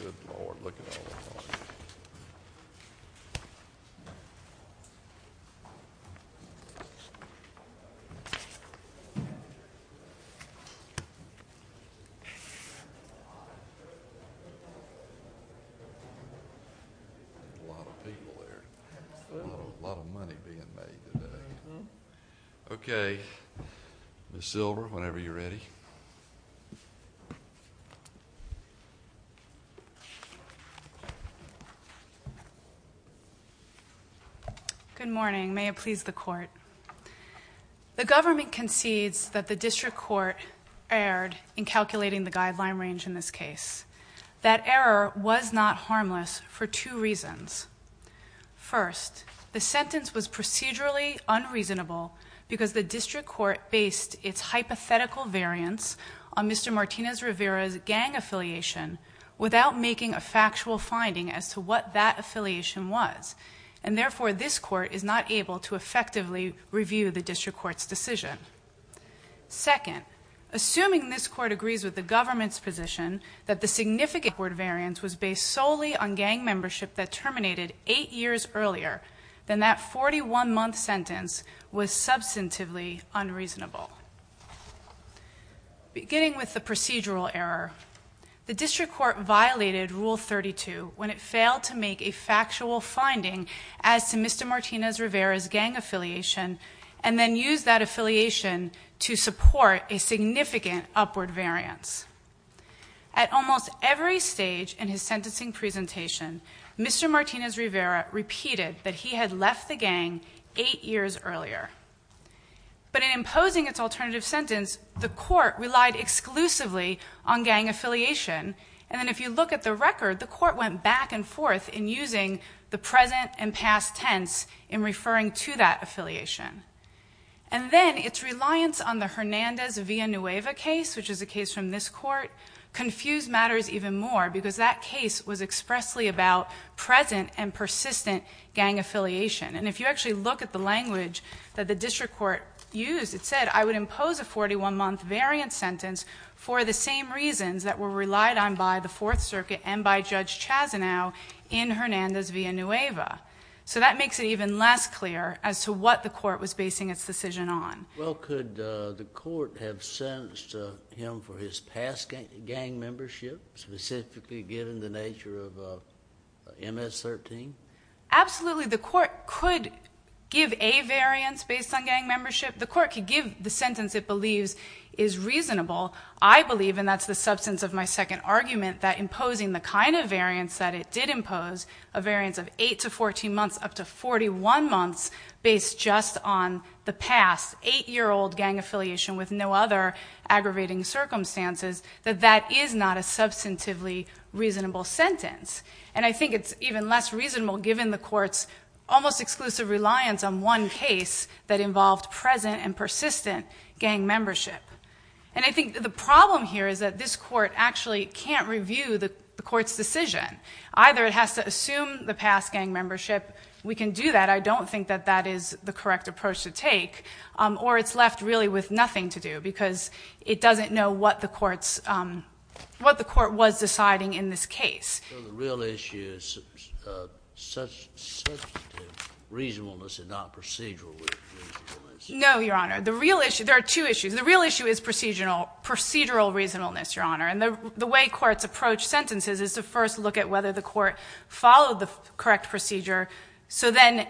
Good Lord, look at all this money. A lot of people there. A lot of money being made today. Okay, Ms. Silver, whenever you're ready. Good morning. May it please the court. The government concedes that the district court erred in calculating the guideline range in this case. That error was not harmless for two reasons. First, the sentence was procedurally unreasonable because the district court based its hypothetical variance on Mr. Martinez-Rivera's gang affiliation without making a factual finding as to what that affiliation was, and therefore this court is not able to effectively review the district court's decision. Second, assuming this court agrees with the government's position that the significant variance was based solely on gang membership that terminated eight years earlier then that 41-month sentence was substantively unreasonable. Beginning with the procedural error, the district court violated Rule 32 when it failed to make a factual finding as to Mr. Martinez-Rivera's gang affiliation and then used that affiliation to support a significant upward variance. At almost every stage in his sentencing presentation, Mr. Martinez-Rivera repeated that he had left the gang eight years earlier. But in imposing its alternative sentence, the court relied exclusively on gang affiliation, and then if you look at the record, the court went back and forth in using the present and past tense in referring to that affiliation. And then its reliance on the Hernandez-Villanueva case, which is a case from this court, confused matters even more because that case was expressly about present and persistent gang affiliation. And if you actually look at the language that the district court used, it said, I would impose a 41-month variance sentence for the same reasons that were relied on by the Fourth Circuit and by Judge Chazanow in Hernandez-Villanueva. So that makes it even less clear as to what the court was basing its decision on. Well, could the court have sentenced him for his past gang membership, specifically given the nature of MS-13? Absolutely. The court could give a variance based on gang membership. The court could give the sentence it believes is reasonable. I believe, and that's the substance of my second argument, that imposing the kind of variance that it did impose, a variance of 8 to 14 months, up to 41 months, based just on the past 8-year-old gang affiliation with no other aggravating circumstances, that that is not a substantively reasonable sentence. And I think it's even less reasonable, given the court's almost exclusive reliance on one case that involved present and persistent gang membership. And I think the problem here is that this court actually can't review the court's decision. Either it has to assume the past gang membership. We can do that. I don't think that that is the correct approach to take. Or it's left really with nothing to do, because it doesn't know what the court was deciding in this case. So the real issue is substantive reasonableness and not procedural reasonableness? No, Your Honor. There are two issues. The real issue is procedural reasonableness, Your Honor. And the way courts approach sentences is to first look at whether the court followed the correct procedure, so then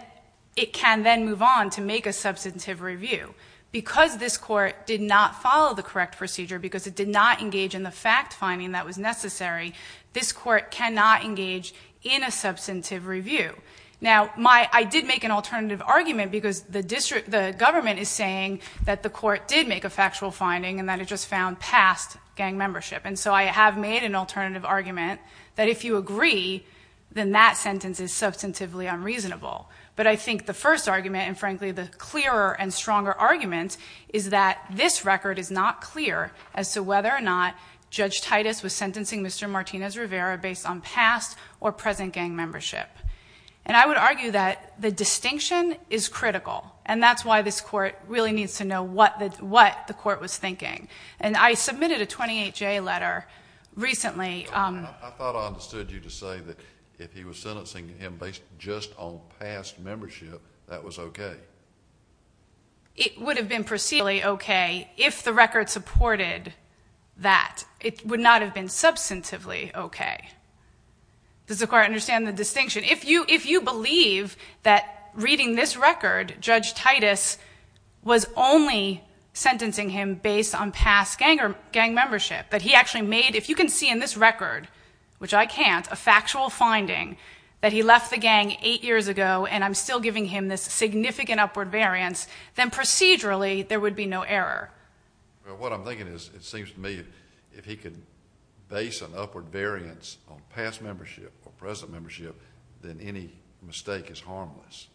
it can then move on to make a substantive review. Because this court did not follow the correct procedure, because it did not engage in the fact-finding that was necessary, this court cannot engage in a substantive review. Now, I did make an alternative argument, because the government is saying that the court did make a factual finding and that it just found past gang membership. And so I have made an alternative argument that if you agree, then that sentence is substantively unreasonable. But I think the first argument, and frankly the clearer and stronger argument, is that this record is not clear as to whether or not Judge Titus was sentencing Mr. Martinez-Rivera based on past or present gang membership. And I would argue that the distinction is critical, and that's why this court really needs to know what the court was thinking. And I submitted a 28-J letter recently. I thought I understood you to say that if he was sentencing him based just on past membership, that was okay. It would have been procedurally okay if the record supported that. It would not have been substantively okay. Does the court understand the distinction? If you believe that reading this record, Judge Titus was only sentencing him based on past gang membership, that he actually made, if you can see in this record, which I can't, a factual finding that he left the gang eight years ago, and I'm still giving him this significant upward variance, then procedurally there would be no error. Well, what I'm thinking is it seems to me if he could base an upward variance on past membership or present membership, then any mistake is harmless.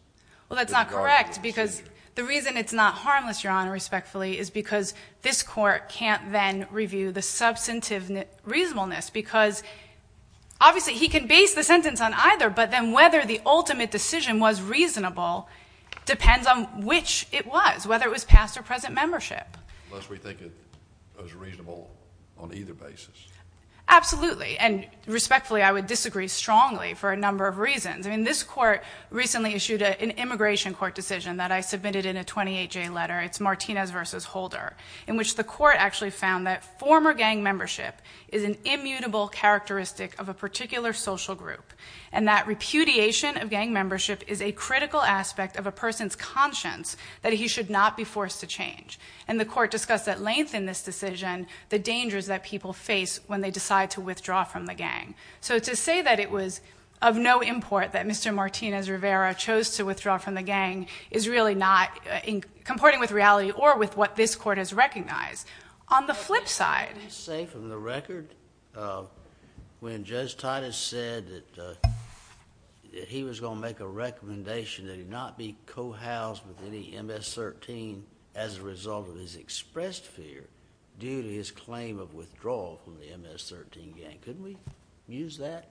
Well, that's not correct because the reason it's not harmless, Your Honor, respectfully, is because this court can't then review the substantive reasonableness because obviously he can base the sentence on either, but then whether the ultimate decision was reasonable depends on which it was, whether it was past or present membership. Unless we think it was reasonable on either basis. Absolutely, and respectfully, I would disagree strongly for a number of reasons. This court recently issued an immigration court decision that I submitted in a 28-J letter. It's Martinez v. Holder, in which the court actually found that former gang membership is an immutable characteristic of a particular social group, and that repudiation of gang membership is a critical aspect of a person's conscience that he should not be forced to change. And the court discussed at length in this decision the dangers that people face when they decide to withdraw from the gang. So to say that it was of no import that Mr. Martinez Rivera chose to withdraw from the gang is really not comporting with reality or with what this court has recognized. On the flip side. I would say from the record when Judge Titus said that he was going to make a recommendation that he not be co-housed with any MS-13 as a result of his expressed fear due to his claim of withdrawal from the MS-13 gang, couldn't we use that?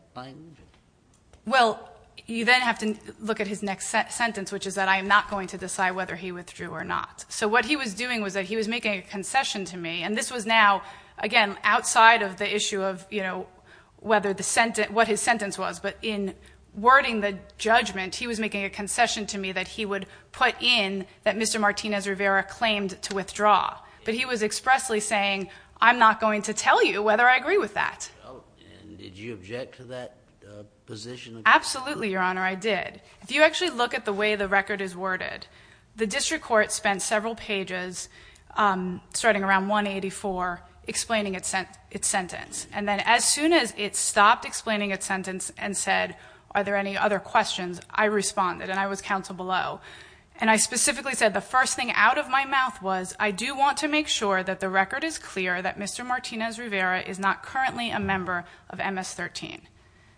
Well, you then have to look at his next sentence, which is that I am not going to decide whether he withdrew or not. So what he was doing was that he was making a concession to me, and this was now, again, outside of the issue of what his sentence was. But in wording the judgment, he was making a concession to me that he would put in that Mr. Martinez Rivera claimed to withdraw. But he was expressly saying, I'm not going to tell you whether I agree with that. And did you object to that position? Absolutely, Your Honor, I did. If you actually look at the way the record is worded, the district court spent several pages starting around 184 explaining its sentence. And then as soon as it stopped explaining its sentence and said, are there any other questions, I responded, and I was counsel below. And I specifically said the first thing out of my mouth was, I do want to make sure that the record is clear that Mr. Martinez Rivera is not currently a member of MS-13.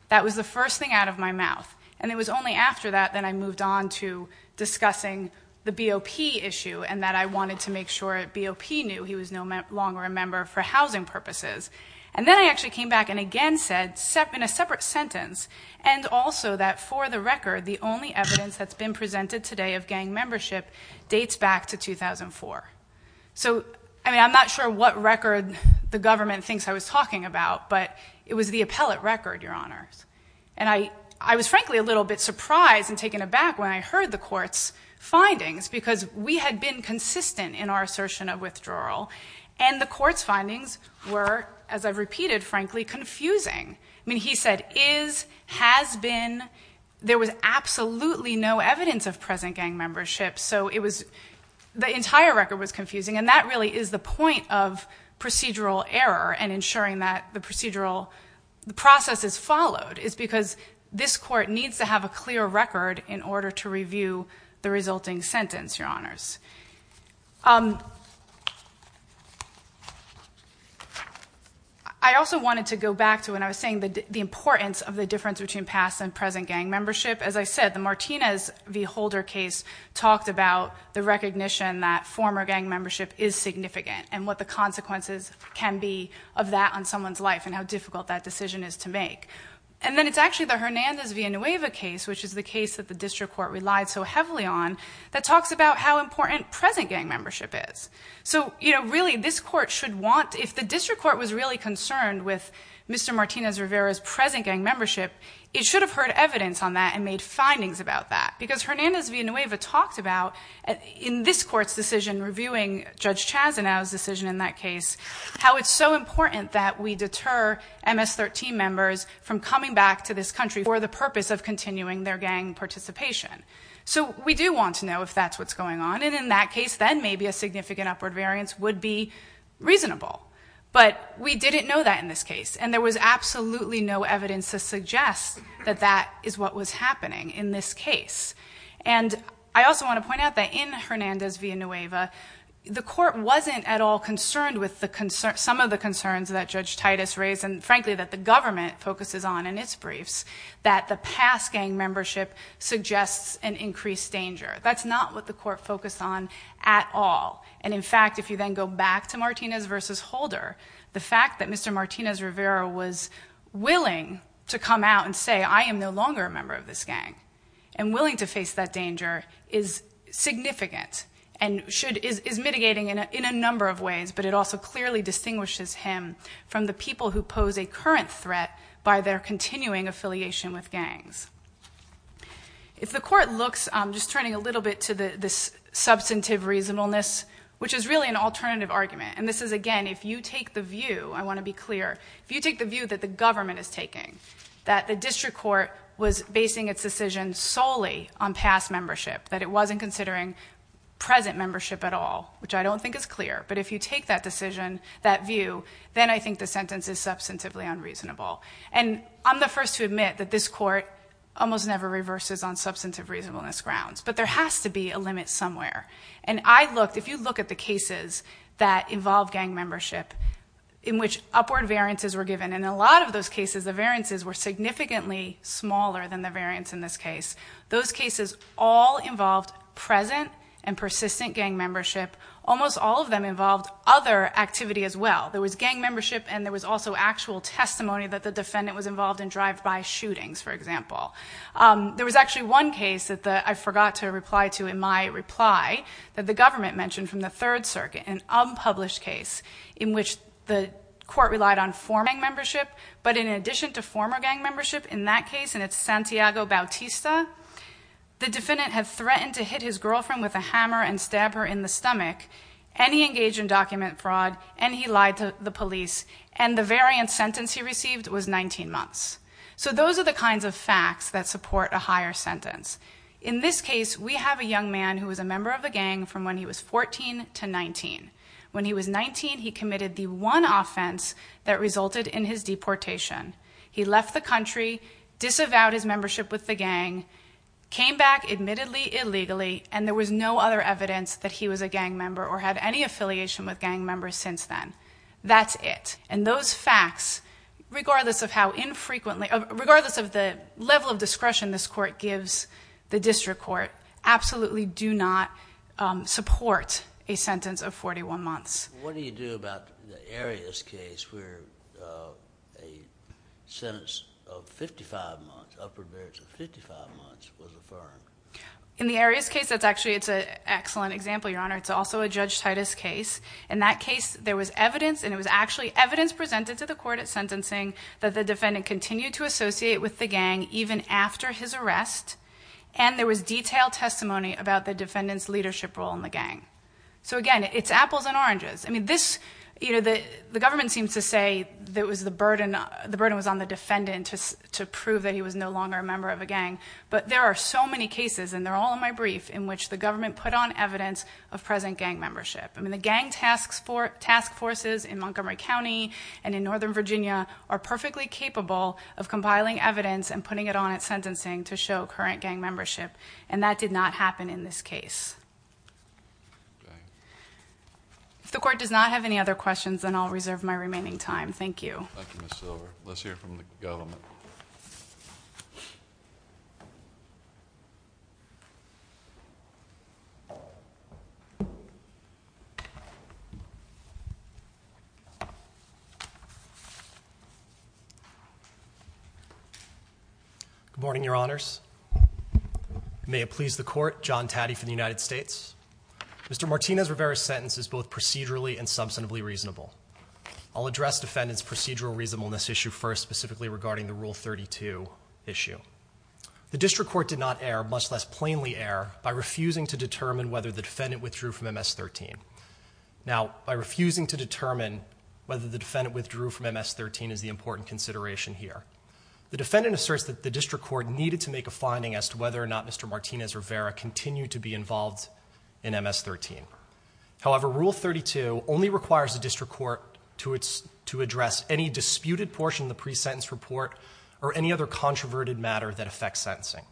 That was the first thing out of my mouth. And it was only after that that I moved on to discussing the BOP issue and that I wanted to make sure BOP knew he was no longer a member for housing purposes. And then I actually came back and again said, in a separate sentence, and also that for the record, the only evidence that's been presented today of gang membership dates back to 2004. So, I mean, I'm not sure what record the government thinks I was talking about, but it was the appellate record, Your Honor. And I was frankly a little bit surprised and taken aback when I heard the court's findings because we had been consistent in our assertion of withdrawal, and the court's findings were, as I've repeated, frankly, confusing. I mean, he said, is, has been, there was absolutely no evidence of present gang membership. So it was, the entire record was confusing. And that really is the point of procedural error and ensuring that the procedural process is followed, is because this court needs to have a clear record in order to review the resulting sentence, Your Honors. I also wanted to go back to what I was saying, the importance of the difference between past and present gang membership. As I said, the Martinez v. Holder case talked about the recognition that former gang membership is significant and what the consequences can be of that on someone's life and how difficult that decision is to make. And then it's actually the Hernandez v. Nueva case, which is the case that the district court relied so heavily on, that talks about how important present gang membership is. So, you know, really this court should want, if the district court was really concerned with Mr. Martinez Rivera's present gang membership, it should have heard evidence on that and made findings about that. Because Hernandez v. Nueva talked about, in this court's decision, reviewing Judge Chazanow's decision in that case, how it's so important that we deter MS-13 members from coming back to this country for the purpose of continuing their gang participation. So we do want to know if that's what's going on, and in that case then maybe a significant upward variance would be reasonable. But we didn't know that in this case, and there was absolutely no evidence to suggest that that is what was happening in this case. And I also want to point out that in Hernandez v. Nueva, the court wasn't at all concerned with some of the concerns that Judge Titus raised, and frankly that the government focuses on in its briefs, that the past gang membership suggests an increased danger. That's not what the court focused on at all. And in fact, if you then go back to Martinez v. Holder, the fact that Mr. Martinez Rivera was willing to come out and say, I am no longer a member of this gang, and willing to face that danger, is significant and is mitigating in a number of ways, but it also clearly distinguishes him from the people who pose a current threat by their continuing affiliation with gangs. If the court looks, just turning a little bit to the substantive reasonableness, which is really an alternative argument, and this is again, if you take the view, I want to be clear, if you take the view that the government is taking, that the district court was basing its decision solely on past membership, that it wasn't considering present membership at all, which I don't think is clear, but if you take that decision, that view, then I think the sentence is substantively unreasonable. And I'm the first to admit that this court almost never reverses on substantive reasonableness grounds, but there has to be a limit somewhere. And I looked, if you look at the cases that involve gang membership, in which upward variances were given, in a lot of those cases, the variances were significantly smaller than the variance in this case. Those cases all involved present and persistent gang membership. Almost all of them involved other activity as well. There was gang membership, and there was also actual testimony that the defendant was involved in drive-by shootings, for example. There was actually one case that I forgot to reply to in my reply, that the government mentioned from the Third Circuit, an unpublished case, in which the court relied on former gang membership, but in addition to former gang membership, in that case, and it's Santiago Bautista, the defendant had threatened to hit his girlfriend with a hammer and stab her in the stomach, and he engaged in document fraud, and he lied to the police, and the variance sentence he received was 19 months. So those are the kinds of facts that support a higher sentence. In this case, we have a young man who was a member of a gang from when he was 14 to 19. When he was 19, he committed the one offense that resulted in his deportation. He left the country, disavowed his membership with the gang, came back admittedly illegally, and there was no other evidence that he was a gang member or had any affiliation with gang members since then. That's it. And those facts, regardless of how infrequently, regardless of the level of discretion this court gives the district court, absolutely do not support a sentence of 41 months. What do you do about the Arias case where a sentence of 55 months, upper variance of 55 months, was affirmed? In the Arias case, that's actually an excellent example, Your Honor. It's also a Judge Titus case. In that case, there was evidence, and it was actually evidence presented to the court at sentencing that the defendant continued to associate with the gang even after his arrest, and there was detailed testimony about the defendant's leadership role in the gang. So, again, it's apples and oranges. I mean, the government seems to say the burden was on the defendant to prove that he was no longer a member of a gang, but there are so many cases, and they're all in my brief, in which the government put on evidence of present gang membership. I mean, the gang task forces in Montgomery County and in Northern Virginia are perfectly capable of compiling evidence and putting it on at sentencing to show current gang membership, and that did not happen in this case. Okay. If the court does not have any other questions, then I'll reserve my remaining time. Thank you. Thank you, Ms. Silver. Let's hear from the government. Good morning, Your Honors. May it please the Court, John Taddy for the United States. Mr. Martinez-Rivera's sentence is both procedurally and substantively reasonable. I'll address defendant's procedural reasonableness issue first, specifically regarding the Rule 32 issue. The district court did not err, much less plainly err, by refusing to determine whether the defendant withdrew from MS-13. Now, by refusing to determine whether the defendant withdrew from MS-13 is the important consideration here. The defendant asserts that the district court needed to make a finding as to whether or not Mr. Martinez-Rivera continued to be involved in MS-13. However, Rule 32 only requires the district court to address any disputed portion of the pre-sentence report or any other controverted matter that affects sentencing.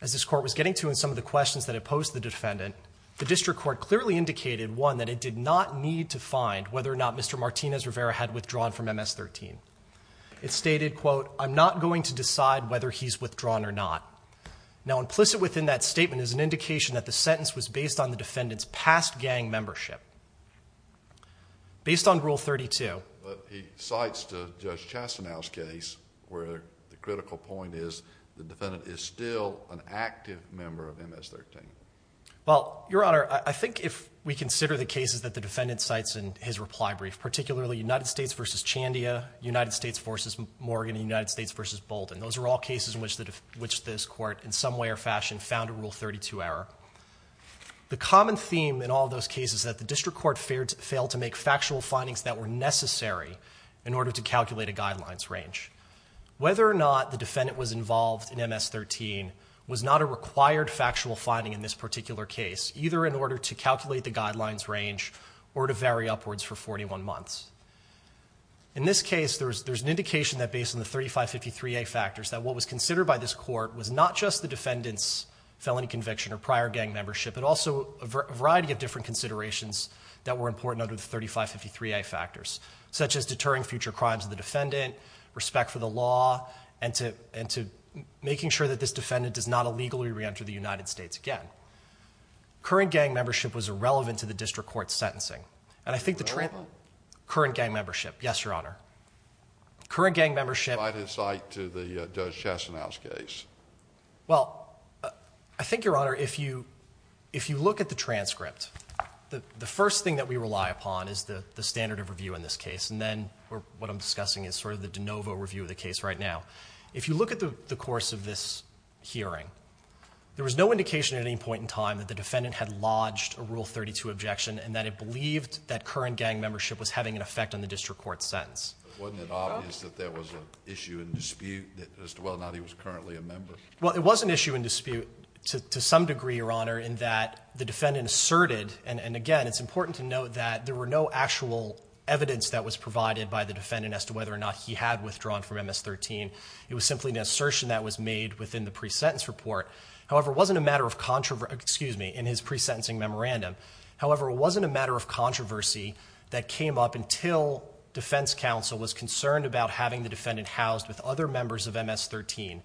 As this court was getting to in some of the questions that it posed to the defendant, the district court clearly indicated, one, that it did not need to find whether or not Mr. Martinez-Rivera had withdrawn from MS-13. It stated, quote, I'm not going to decide whether he's withdrawn or not. Now, implicit within that statement is an indication that the sentence was based on the defendant's past gang membership. Based on Rule 32... But he cites Judge Chastanow's case where the critical point is the defendant is still an active member of MS-13. Well, Your Honor, I think if we consider the cases that the defendant cites in his reply brief, particularly United States v. Chandia, United States v. Morgan, and United States v. Bolden, those are all cases in which this court, in some way or fashion, found a Rule 32 error. The common theme in all those cases is that the district court failed to make factual findings that were necessary in order to calculate a guidelines range. Whether or not the defendant was involved in MS-13 was not a required factual finding in this particular case, either in order to calculate the guidelines range or to vary upwards for 41 months. In this case, there's an indication that based on the 3553A factors that what was considered by this court was not just the defendant's felony conviction or prior gang membership, but also a variety of different considerations that were important under the 3553A factors, such as deterring future crimes of the defendant, respect for the law, and to making sure that this defendant does not illegally re-enter the United States again. Current gang membership was irrelevant to the district court's sentencing. And I think the transcript... Current gang membership, yes, Your Honor. Current gang membership... ...to the Judge Chastanow's case. Well, I think, Your Honor, if you look at the transcript, the first thing that we rely upon is the standard of review in this case, and then what I'm discussing is sort of the de novo review of the case right now. If you look at the course of this hearing, there was no indication at any point in time that the defendant had lodged a Rule 32 objection and that it believed that current gang membership was having an effect on the district court's sentence. Wasn't it obvious that there was an issue and dispute as to whether or not he was currently a member? Well, it was an issue and dispute to some degree, Your Honor, in that the defendant asserted, and again, it's important to note that there were no actual evidence that was provided by the defendant as to whether or not he had withdrawn from MS-13. It was simply an assertion that was made within the pre-sentence report. However, it wasn't a matter of contro... Excuse me, in his pre-sentencing memorandum. However, it wasn't a matter of controversy that came up until defense counsel was concerned about having the defendant housed with other members of MS-13.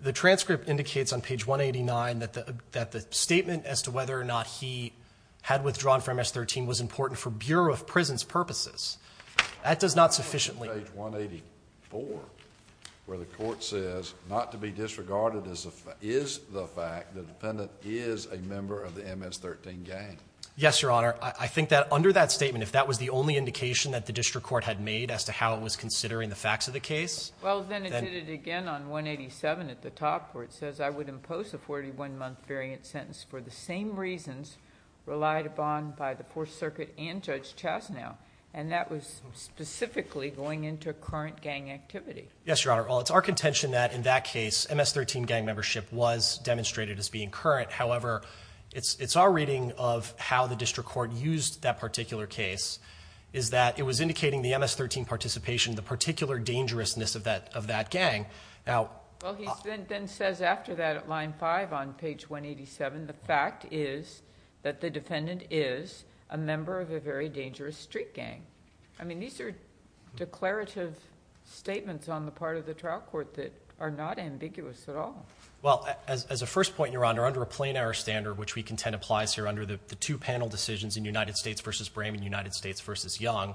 The transcript indicates on page 189 that the statement as to whether or not he had withdrawn from MS-13 was important for Bureau of Prison's purposes. That does not sufficiently... On page 184, where the court says, not to be disregarded is the fact that the defendant is a member of the MS-13 gang. Yes, Your Honor. I think that under that statement, if that was the only indication that the district court had made as to how it was considering the facts of the case... Well, then it did it again on 187 at the top, where it says, I would impose a 41-month variant sentence for the same reasons relied upon by the poor circuit and Judge Chastanow. And that was specifically going into current gang activity. Yes, Your Honor. Well, it's our contention that in that case, MS-13 gang membership was demonstrated as being current. However, it's our reading of how the district court used that particular case is that it was indicating the MS-13 participation, the particular dangerousness of that gang. Well, he then says after that at line 5 on page 187, the fact is that the defendant is a member of a very dangerous street gang. I mean, these are declarative statements on the part of the trial court that are not ambiguous at all. Well, as a first point, Your Honor, under a plain error standard, which we contend applies here under the two panel decisions in United States v. Brame and United States v. Young,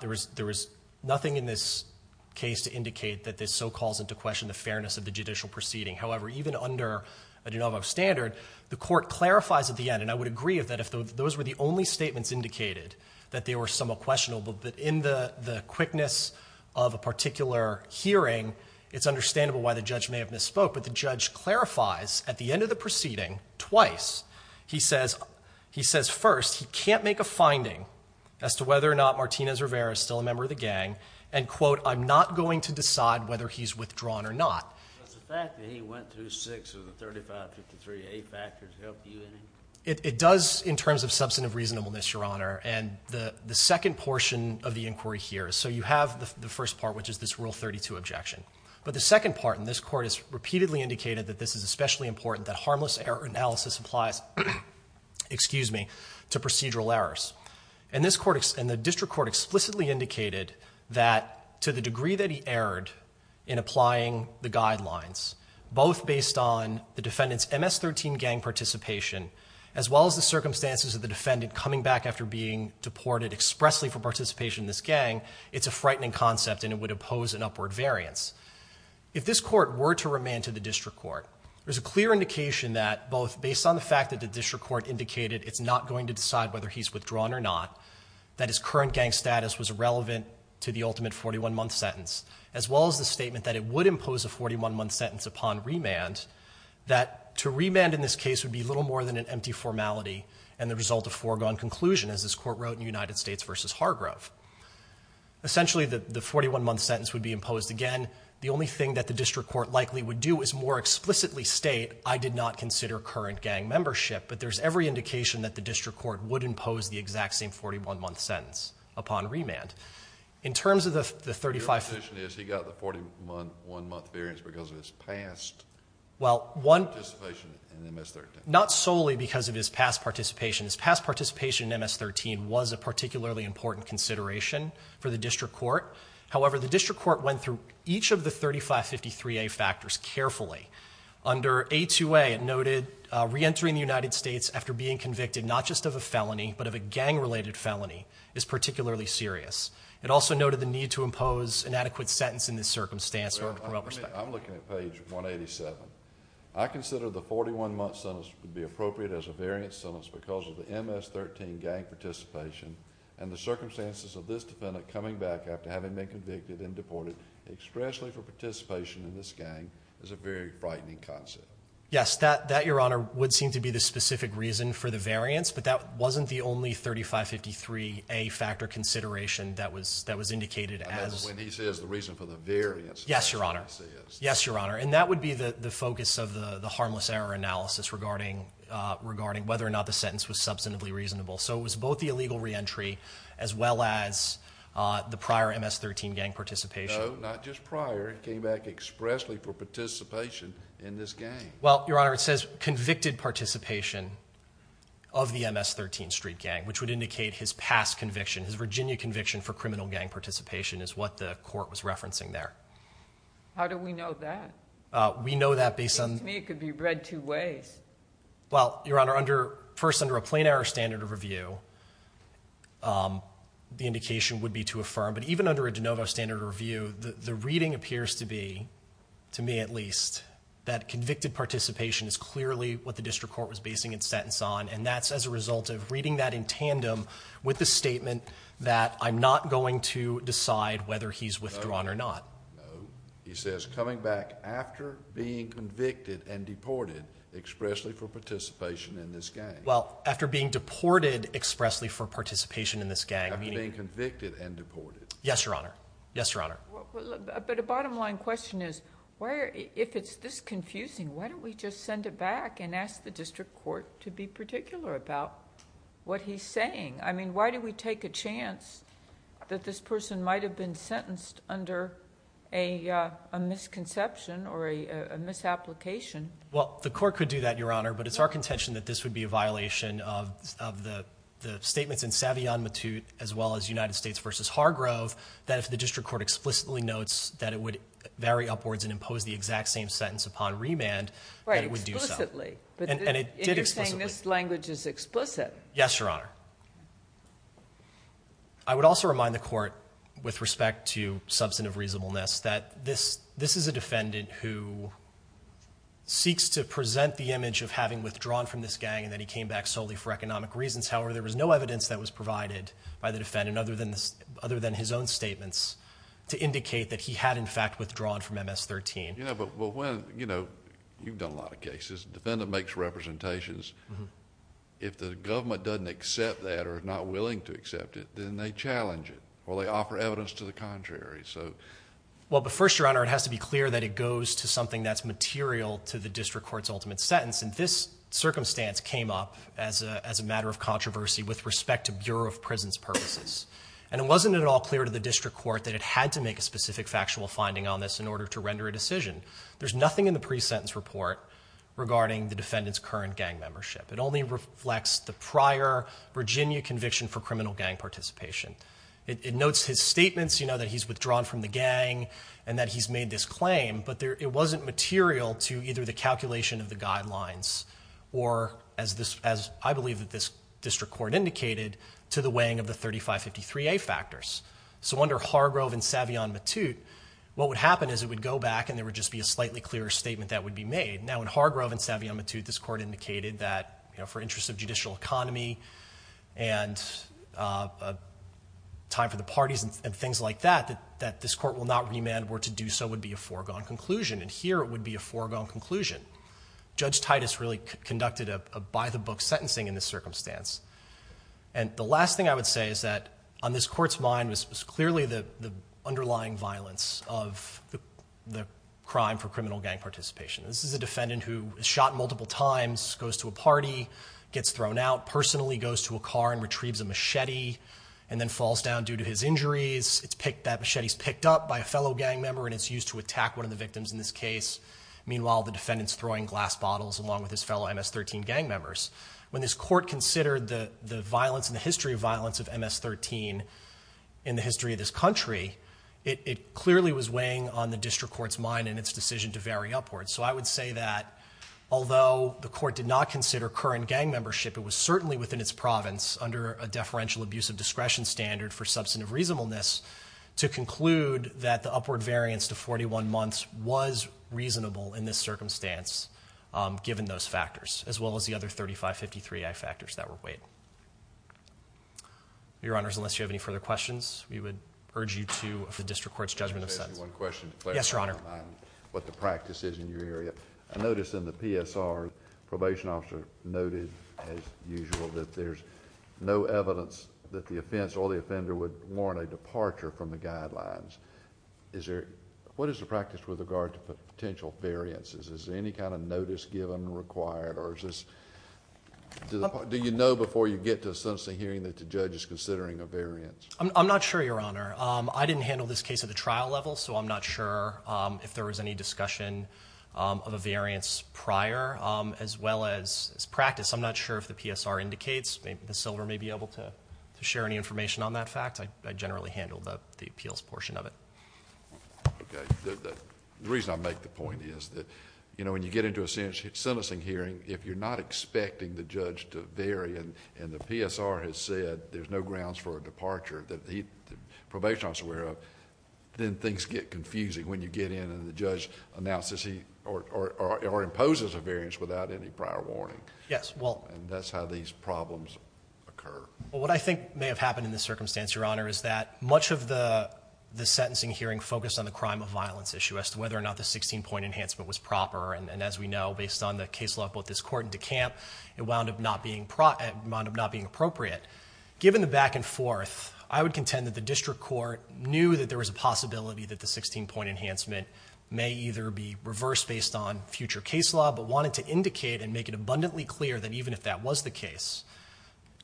there was nothing in this case to indicate that this so calls into question the fairness of the judicial proceeding. However, even under a de novo standard, the court clarifies at the end, and I would agree that if those were the only statements indicated that they were somewhat questionable, but in the quickness of a particular hearing, it's understandable why the judge may have misspoke. But the judge clarifies at the end of the proceeding twice. He says first he can't make a finding as to whether or not Martinez Rivera is still a member of the gang, and, quote, I'm not going to decide whether he's withdrawn or not. Does the fact that he went through six of the 3553A factors help you in any way? It does in terms of substantive reasonableness, Your Honor. And the second portion of the inquiry here, so you have the first part, which is this Rule 32 objection. But the second part, and this court has repeatedly indicated that this is especially important, that harmless error analysis applies to procedural errors. And the district court explicitly indicated that to the degree that he erred in applying the guidelines, both based on the defendant's MS-13 gang participation as well as the circumstances of the defendant coming back after being deported expressly for participation in this gang, it's a frightening concept and it would impose an upward variance. If this court were to remand to the district court, there's a clear indication that both based on the fact that the district court indicated it's not going to decide whether he's withdrawn or not, that his current gang status was irrelevant to the ultimate 41-month sentence, as well as the statement that it would impose a 41-month sentence upon remand, that to remand in this case would be little more than an empty formality and the result of foregone conclusion, as this court wrote in United States v. Hargrove. Essentially, the 41-month sentence would be imposed again. The only thing that the district court likely would do is more explicitly state, I did not consider current gang membership. But there's every indication that the district court would impose the exact same 41-month sentence upon remand. Your position is he got the 41-month variance because of his past participation in MS-13? Not solely because of his past participation. His past participation in MS-13 was a particularly important consideration for the district court. However, the district court went through each of the 3553A factors carefully. Under A2A, it noted reentering the United States after being convicted not just of a felony, but of a gang-related felony, is particularly serious. It also noted the need to impose an adequate sentence in this circumstance. I'm looking at page 187. I consider the 41-month sentence to be appropriate as a variance sentence because of the MS-13 gang participation and the circumstances of this defendant coming back after having been convicted and deported, especially for participation in this gang, is a very frightening concept. Yes, that, Your Honor, would seem to be the specific reason for the variance, but that wasn't the only 3553A factor consideration that was indicated as... I meant when he says the reason for the variance. Yes, Your Honor. Yes, Your Honor. And that would be the focus of the harmless error analysis regarding whether or not the sentence was substantively reasonable. So it was both the illegal reentry as well as the prior MS-13 gang participation. No, not just prior. It came back expressly for participation in this gang. Well, Your Honor, it says convicted participation of the MS-13 street gang, which would indicate his past conviction, his Virginia conviction for criminal gang participation, is what the court was referencing there. How do we know that? We know that based on... It seems to me it could be read two ways. Well, Your Honor, first, under a plain error standard of review, the indication would be to affirm, but even under a de novo standard of review, the reading appears to be, to me at least, that convicted participation is clearly what the district court was basing its sentence on, and that's as a result of reading that in tandem with the statement that I'm not going to decide whether he's withdrawn or not. No, he says coming back after being convicted and deported expressly for participation in this gang. Well, after being deported expressly for participation in this gang, meaning... After being convicted and deported. Yes, Your Honor. Yes, Your Honor. But a bottom line question is, if it's this confusing, why don't we just send it back and ask the district court to be particular about what he's saying? I mean, why do we take a chance that this person might have been sentenced under a misconception or a misapplication? Well, the court could do that, Your Honor, but it's our contention that this would be a violation of the statements in Savion Matute as well as United States v. Hargrove that if the district court explicitly notes that it would vary upwards and impose the exact same sentence upon remand, that it would do so. Right, explicitly. And it did explicitly. And you're saying this language is explicit. Yes, Your Honor. I would also remind the court with respect to substantive reasonableness that this is a defendant who seeks to present the image of having withdrawn from this gang and that he came back solely for economic reasons. However, there was no evidence that was provided by the defendant other than his own statements to indicate that he had, in fact, withdrawn from MS-13. You know, you've done a lot of cases. A defendant makes representations. If the government doesn't accept that or is not willing to accept it, then they challenge it or they offer evidence to the contrary. Well, but first, Your Honor, it has to be clear that it goes to something that's material to the district court's ultimate sentence. And this circumstance came up as a matter of controversy with respect to Bureau of Prisons purposes. And it wasn't at all clear to the district court that it had to make a specific factual finding on this in order to render a decision. There's nothing in the pre-sentence report regarding the defendant's current gang membership. It only reflects the prior Virginia conviction for criminal gang participation. It notes his statements, you know, that he's withdrawn from the gang and that he's made this claim, but it wasn't material to either the calculation of the guidelines or, as I believe that this district court indicated, to the weighing of the 3553A factors. So under Hargrove and Savion Matute, what would happen is it would go back and there would just be a slightly clearer statement that would be made. Now, in Hargrove and Savion Matute, this court indicated that, you know, for interests of judicial economy and time for the parties and things like that, that this court will not remand or to do so would be a foregone conclusion. And here it would be a foregone conclusion. Judge Titus really conducted a by-the-book sentencing in this circumstance. And the last thing I would say is that on this court's mind was clearly the underlying violence of the crime for criminal gang participation. This is a defendant who is shot multiple times, goes to a party, gets thrown out, personally goes to a car and retrieves a machete and then falls down due to his injuries. That machete is picked up by a fellow gang member and it's used to attack one of the victims in this case. Meanwhile, the defendant is throwing glass bottles along with his fellow MS-13 gang members. When this court considered the violence and the history of violence of MS-13 in the history of this country, it clearly was weighing on the district court's mind and its decision to vary upwards. So I would say that although the court did not consider current gang membership, it was certainly within its province, under a deferential abuse of discretion standard for substantive reasonableness, to conclude that the upward variance to 41 months was reasonable in this circumstance given those factors as well as the other 3553i factors that were weighed. Your Honors, unless you have any further questions, we would urge you to the district court's judgment of sentence. I just have one question. Yes, Your Honor. What the practice is in your area. I notice in the PSR, probation officer noted as usual that there's no evidence that the offense or the offender would warrant a departure from the guidelines. What is the practice with regard to potential variances? Is there any kind of notice given required? Do you know before you get to a sentencing hearing that the judge is considering a variance? I'm not sure, Your Honor. I didn't handle this case at the trial level, so I'm not sure if there was any discussion of a variance prior, as well as practice. I'm not sure if the PSR indicates. Ms. Silver may be able to share any information on that fact. I generally handle the appeals portion of it. Okay. The reason I make the point is that when you get into a sentencing hearing, if you're not expecting the judge to vary, and the PSR has said there's no grounds for a departure that the probation officer is aware of, then things get confusing when you get in and the judge announces or imposes a variance without any prior warning. Yes. That's how these problems occur. What I think may have happened in this circumstance, Your Honor, is that much of the sentencing hearing focused on the crime of violence issue as to whether or not the 16-point enhancement was proper. As we know, based on the case law of both this court and DeCamp, it wound up not being appropriate. Given the back and forth, I would contend that the district court knew that there was a possibility that the 16-point enhancement may either be reversed based on future case law, but wanted to indicate and make it abundantly clear that even if that was the case,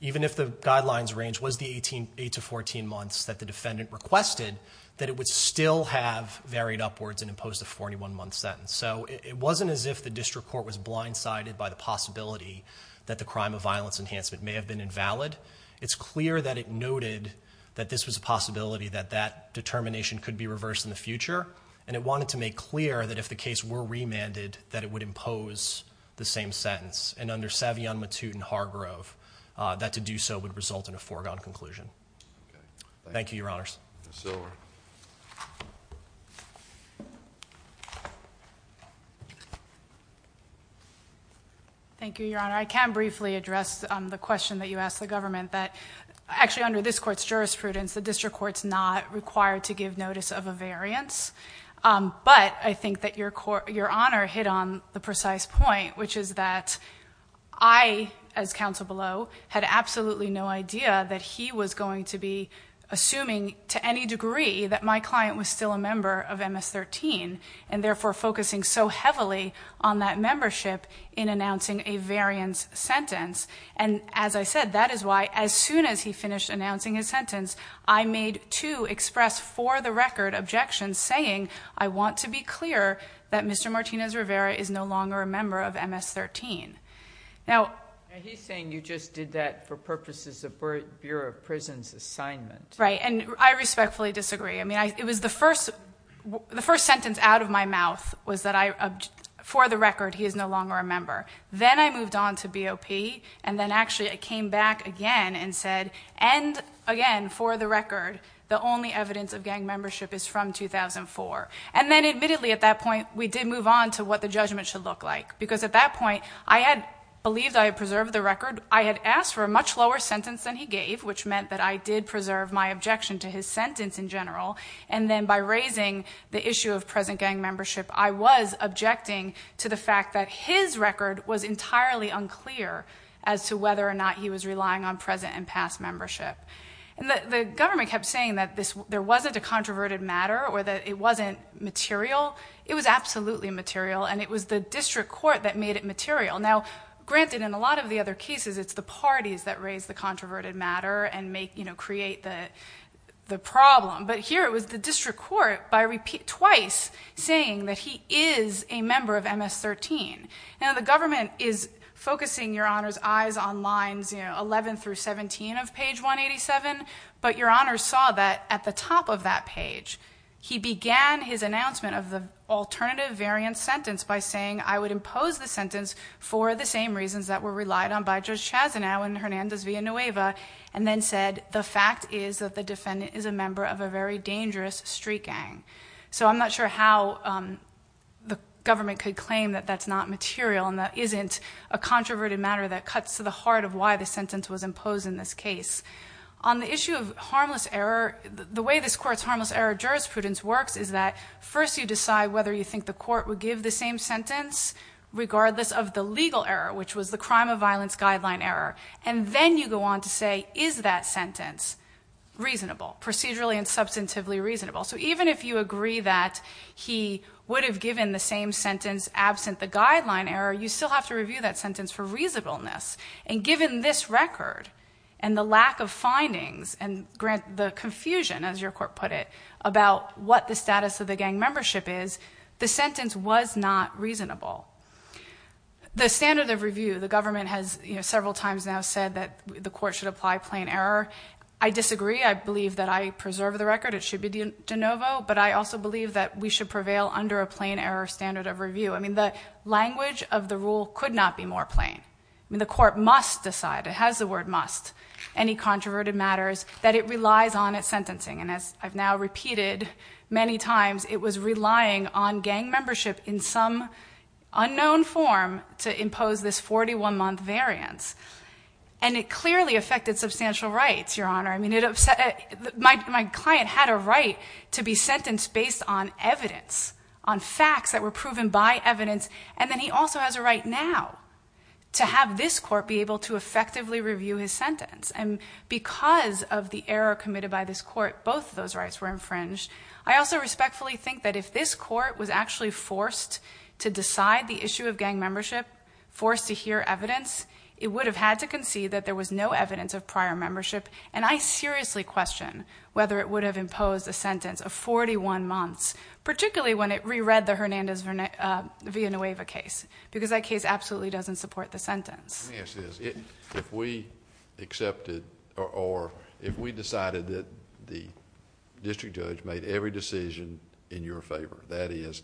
even if the guidelines range was the 8 to 14 months that the defendant requested, that it would still have varied upwards and imposed a 41-month sentence. It wasn't as if the district court was blindsided by the possibility that the crime of violence enhancement may have been invalid. It's clear that it noted that this was a possibility that that determination could be reversed in the future, and it wanted to make clear that if the case were remanded, that it would impose the same sentence, and under Savion Matutin-Hargrove, that to do so would result in a foregone conclusion. Thank you, Your Honors. Thank you, Your Honor. I can briefly address the question that you asked the government, that actually under this court's jurisprudence, the district court's not required to give notice of a variance, but I think that Your Honor hit on the precise point, which is that I, as counsel below, had absolutely no idea that he was going to be assuming to any degree that my client was still a member of MS-13, and therefore focusing so heavily on that membership in announcing a variance sentence, and as I said, that is why as soon as he finished announcing his sentence, I made two express-for-the-record objections saying, I want to be clear that Mr. Martinez-Rivera is no longer a member of MS-13. Now, He's saying you just did that for purposes of Bureau of Prisons' assignment. Right, and I respectfully disagree. I mean, it was the first sentence out of my mouth was that I, for the record, he is no longer a member. Then I moved on to BOP, and then actually I came back again and said, and again, for the record, the only evidence of gang membership is from 2004, and then admittedly at that point we did move on to what the judgment should look like because at that point I had believed I had preserved the record. I had asked for a much lower sentence than he gave, which meant that I did preserve my objection to his sentence in general, and then by raising the issue of present gang membership, I was objecting to the fact that his record was entirely unclear as to whether or not he was relying on present and past membership. The government kept saying that there wasn't a controverted matter or that it wasn't material. It was absolutely material, and it was the district court that made it material. Now, granted, in a lot of the other cases, it's the parties that raise the controverted matter and create the problem, but here it was the district court twice saying that he is a member of MS-13. Now, the government is focusing Your Honor's eyes on lines 11 through 17 of page 187, but Your Honor saw that at the top of that page, he began his announcement of the alternative variant sentence by saying I would impose the sentence for the same reasons that were relied on by Judge Chazanow and Hernandez v. Nueva, and then said the fact is that the defendant is a member of a very dangerous street gang. So I'm not sure how the government could claim that that's not material and that isn't a controverted matter that cuts to the heart of why the sentence was imposed in this case. On the issue of harmless error, the way this court's harmless error jurisprudence works is that first you decide whether you think the court would give the same sentence regardless of the legal error, which was the crime of violence guideline error, and then you go on to say is that sentence reasonable, procedurally and substantively reasonable. So even if you agree that he would have given the same sentence absent the guideline error, you still have to review that sentence for reasonableness. And given this record and the lack of findings and the confusion, as your court put it, about what the status of the gang membership is, the sentence was not reasonable. The standard of review, the government has several times now said that the court should apply plain error. I disagree. I believe that I preserve the record. It should be de novo. But I also believe that we should prevail under a plain error standard of review. I mean, the language of the rule could not be more plain. I mean, the court must decide, it has the word must, any controverted matters, that it relies on its sentencing. And as I've now repeated many times, it was relying on gang membership in some unknown form to impose this 41-month variance. And it clearly affected substantial rights, Your Honor. I mean, my client had a right to be sentenced based on evidence, on facts that were proven by evidence. And then he also has a right now to have this court be able to effectively review his sentence. And because of the error committed by this court, both of those rights were infringed. I also respectfully think that if this court was actually forced to decide the issue of gang membership, forced to hear evidence, it would have had to concede that there was no evidence of prior membership. And I seriously question whether it would have imposed a sentence of 41 months, particularly when it reread the Hernandez-Villanueva case, because that case absolutely doesn't support the sentence. Let me ask this. If we accepted or if we decided that the district judge made every decision in your favor, that is,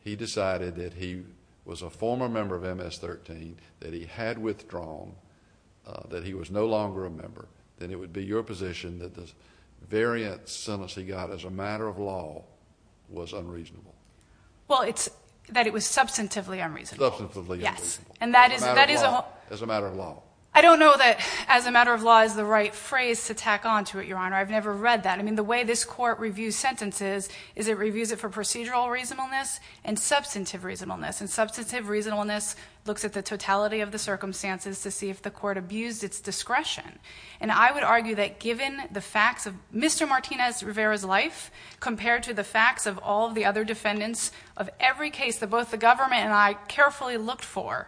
he decided that he was a former member of MS-13, that he had withdrawn, that he was no longer a member, then it would be your position that the variant sentence he got as a matter of law was unreasonable? Well, it's that it was substantively unreasonable. Substantively unreasonable. Yes. As a matter of law. I don't know that as a matter of law is the right phrase to tack on to it, Your Honor. I've never read that. I mean, the way this court reviews sentences is it reviews it for procedural reasonableness and substantive reasonableness. It looks at the totality of the circumstances to see if the court abused its discretion. And I would argue that given the facts of Mr. Martinez-Rivera's life, compared to the facts of all the other defendants of every case that both the government and I carefully looked for,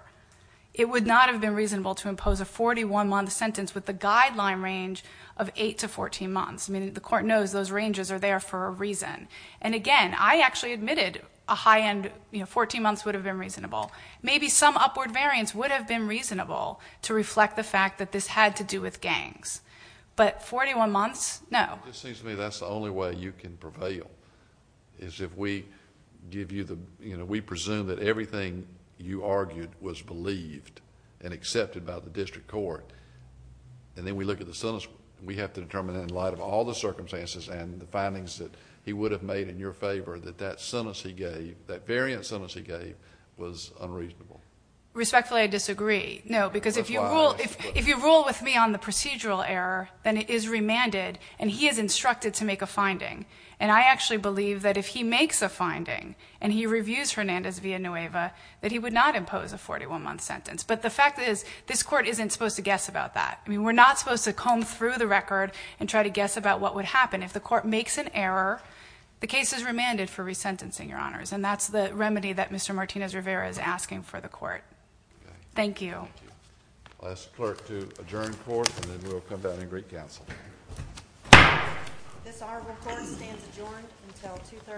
it would not have been reasonable to impose a 41-month sentence with the guideline range of 8 to 14 months. I mean, the court knows those ranges are there for a reason. And again, I actually admitted a high-end, you know, 14 months would have been reasonable. Maybe some upward variance would have been reasonable to reflect the fact that this had to do with gangs. But 41 months, no. It seems to me that's the only way you can prevail is if we give you the, you know, we presume that everything you argued was believed and accepted by the district court. And then we look at the sentence. We have to determine in light of all the circumstances and the findings that he would have made in your favor that that sentence he gave, that variant sentence he gave, was unreasonable. Respectfully, I disagree. No, because if you rule with me on the procedural error, then it is remanded. And he is instructed to make a finding. And I actually believe that if he makes a finding and he reviews Hernandez v. Nueva, that he would not impose a 41-month sentence. But the fact is this court isn't supposed to guess about that. I mean, we're not supposed to comb through the record and try to guess about what would happen. If the court makes an error, the case is remanded for resentencing, Your Honors. And that's the remedy that Mr. Martinez-Rivera is asking for the court. Thank you. Thank you. I'll ask the clerk to adjourn the court, and then we'll come back in Greek Council. This honorable court stands adjourned until 2.30 today.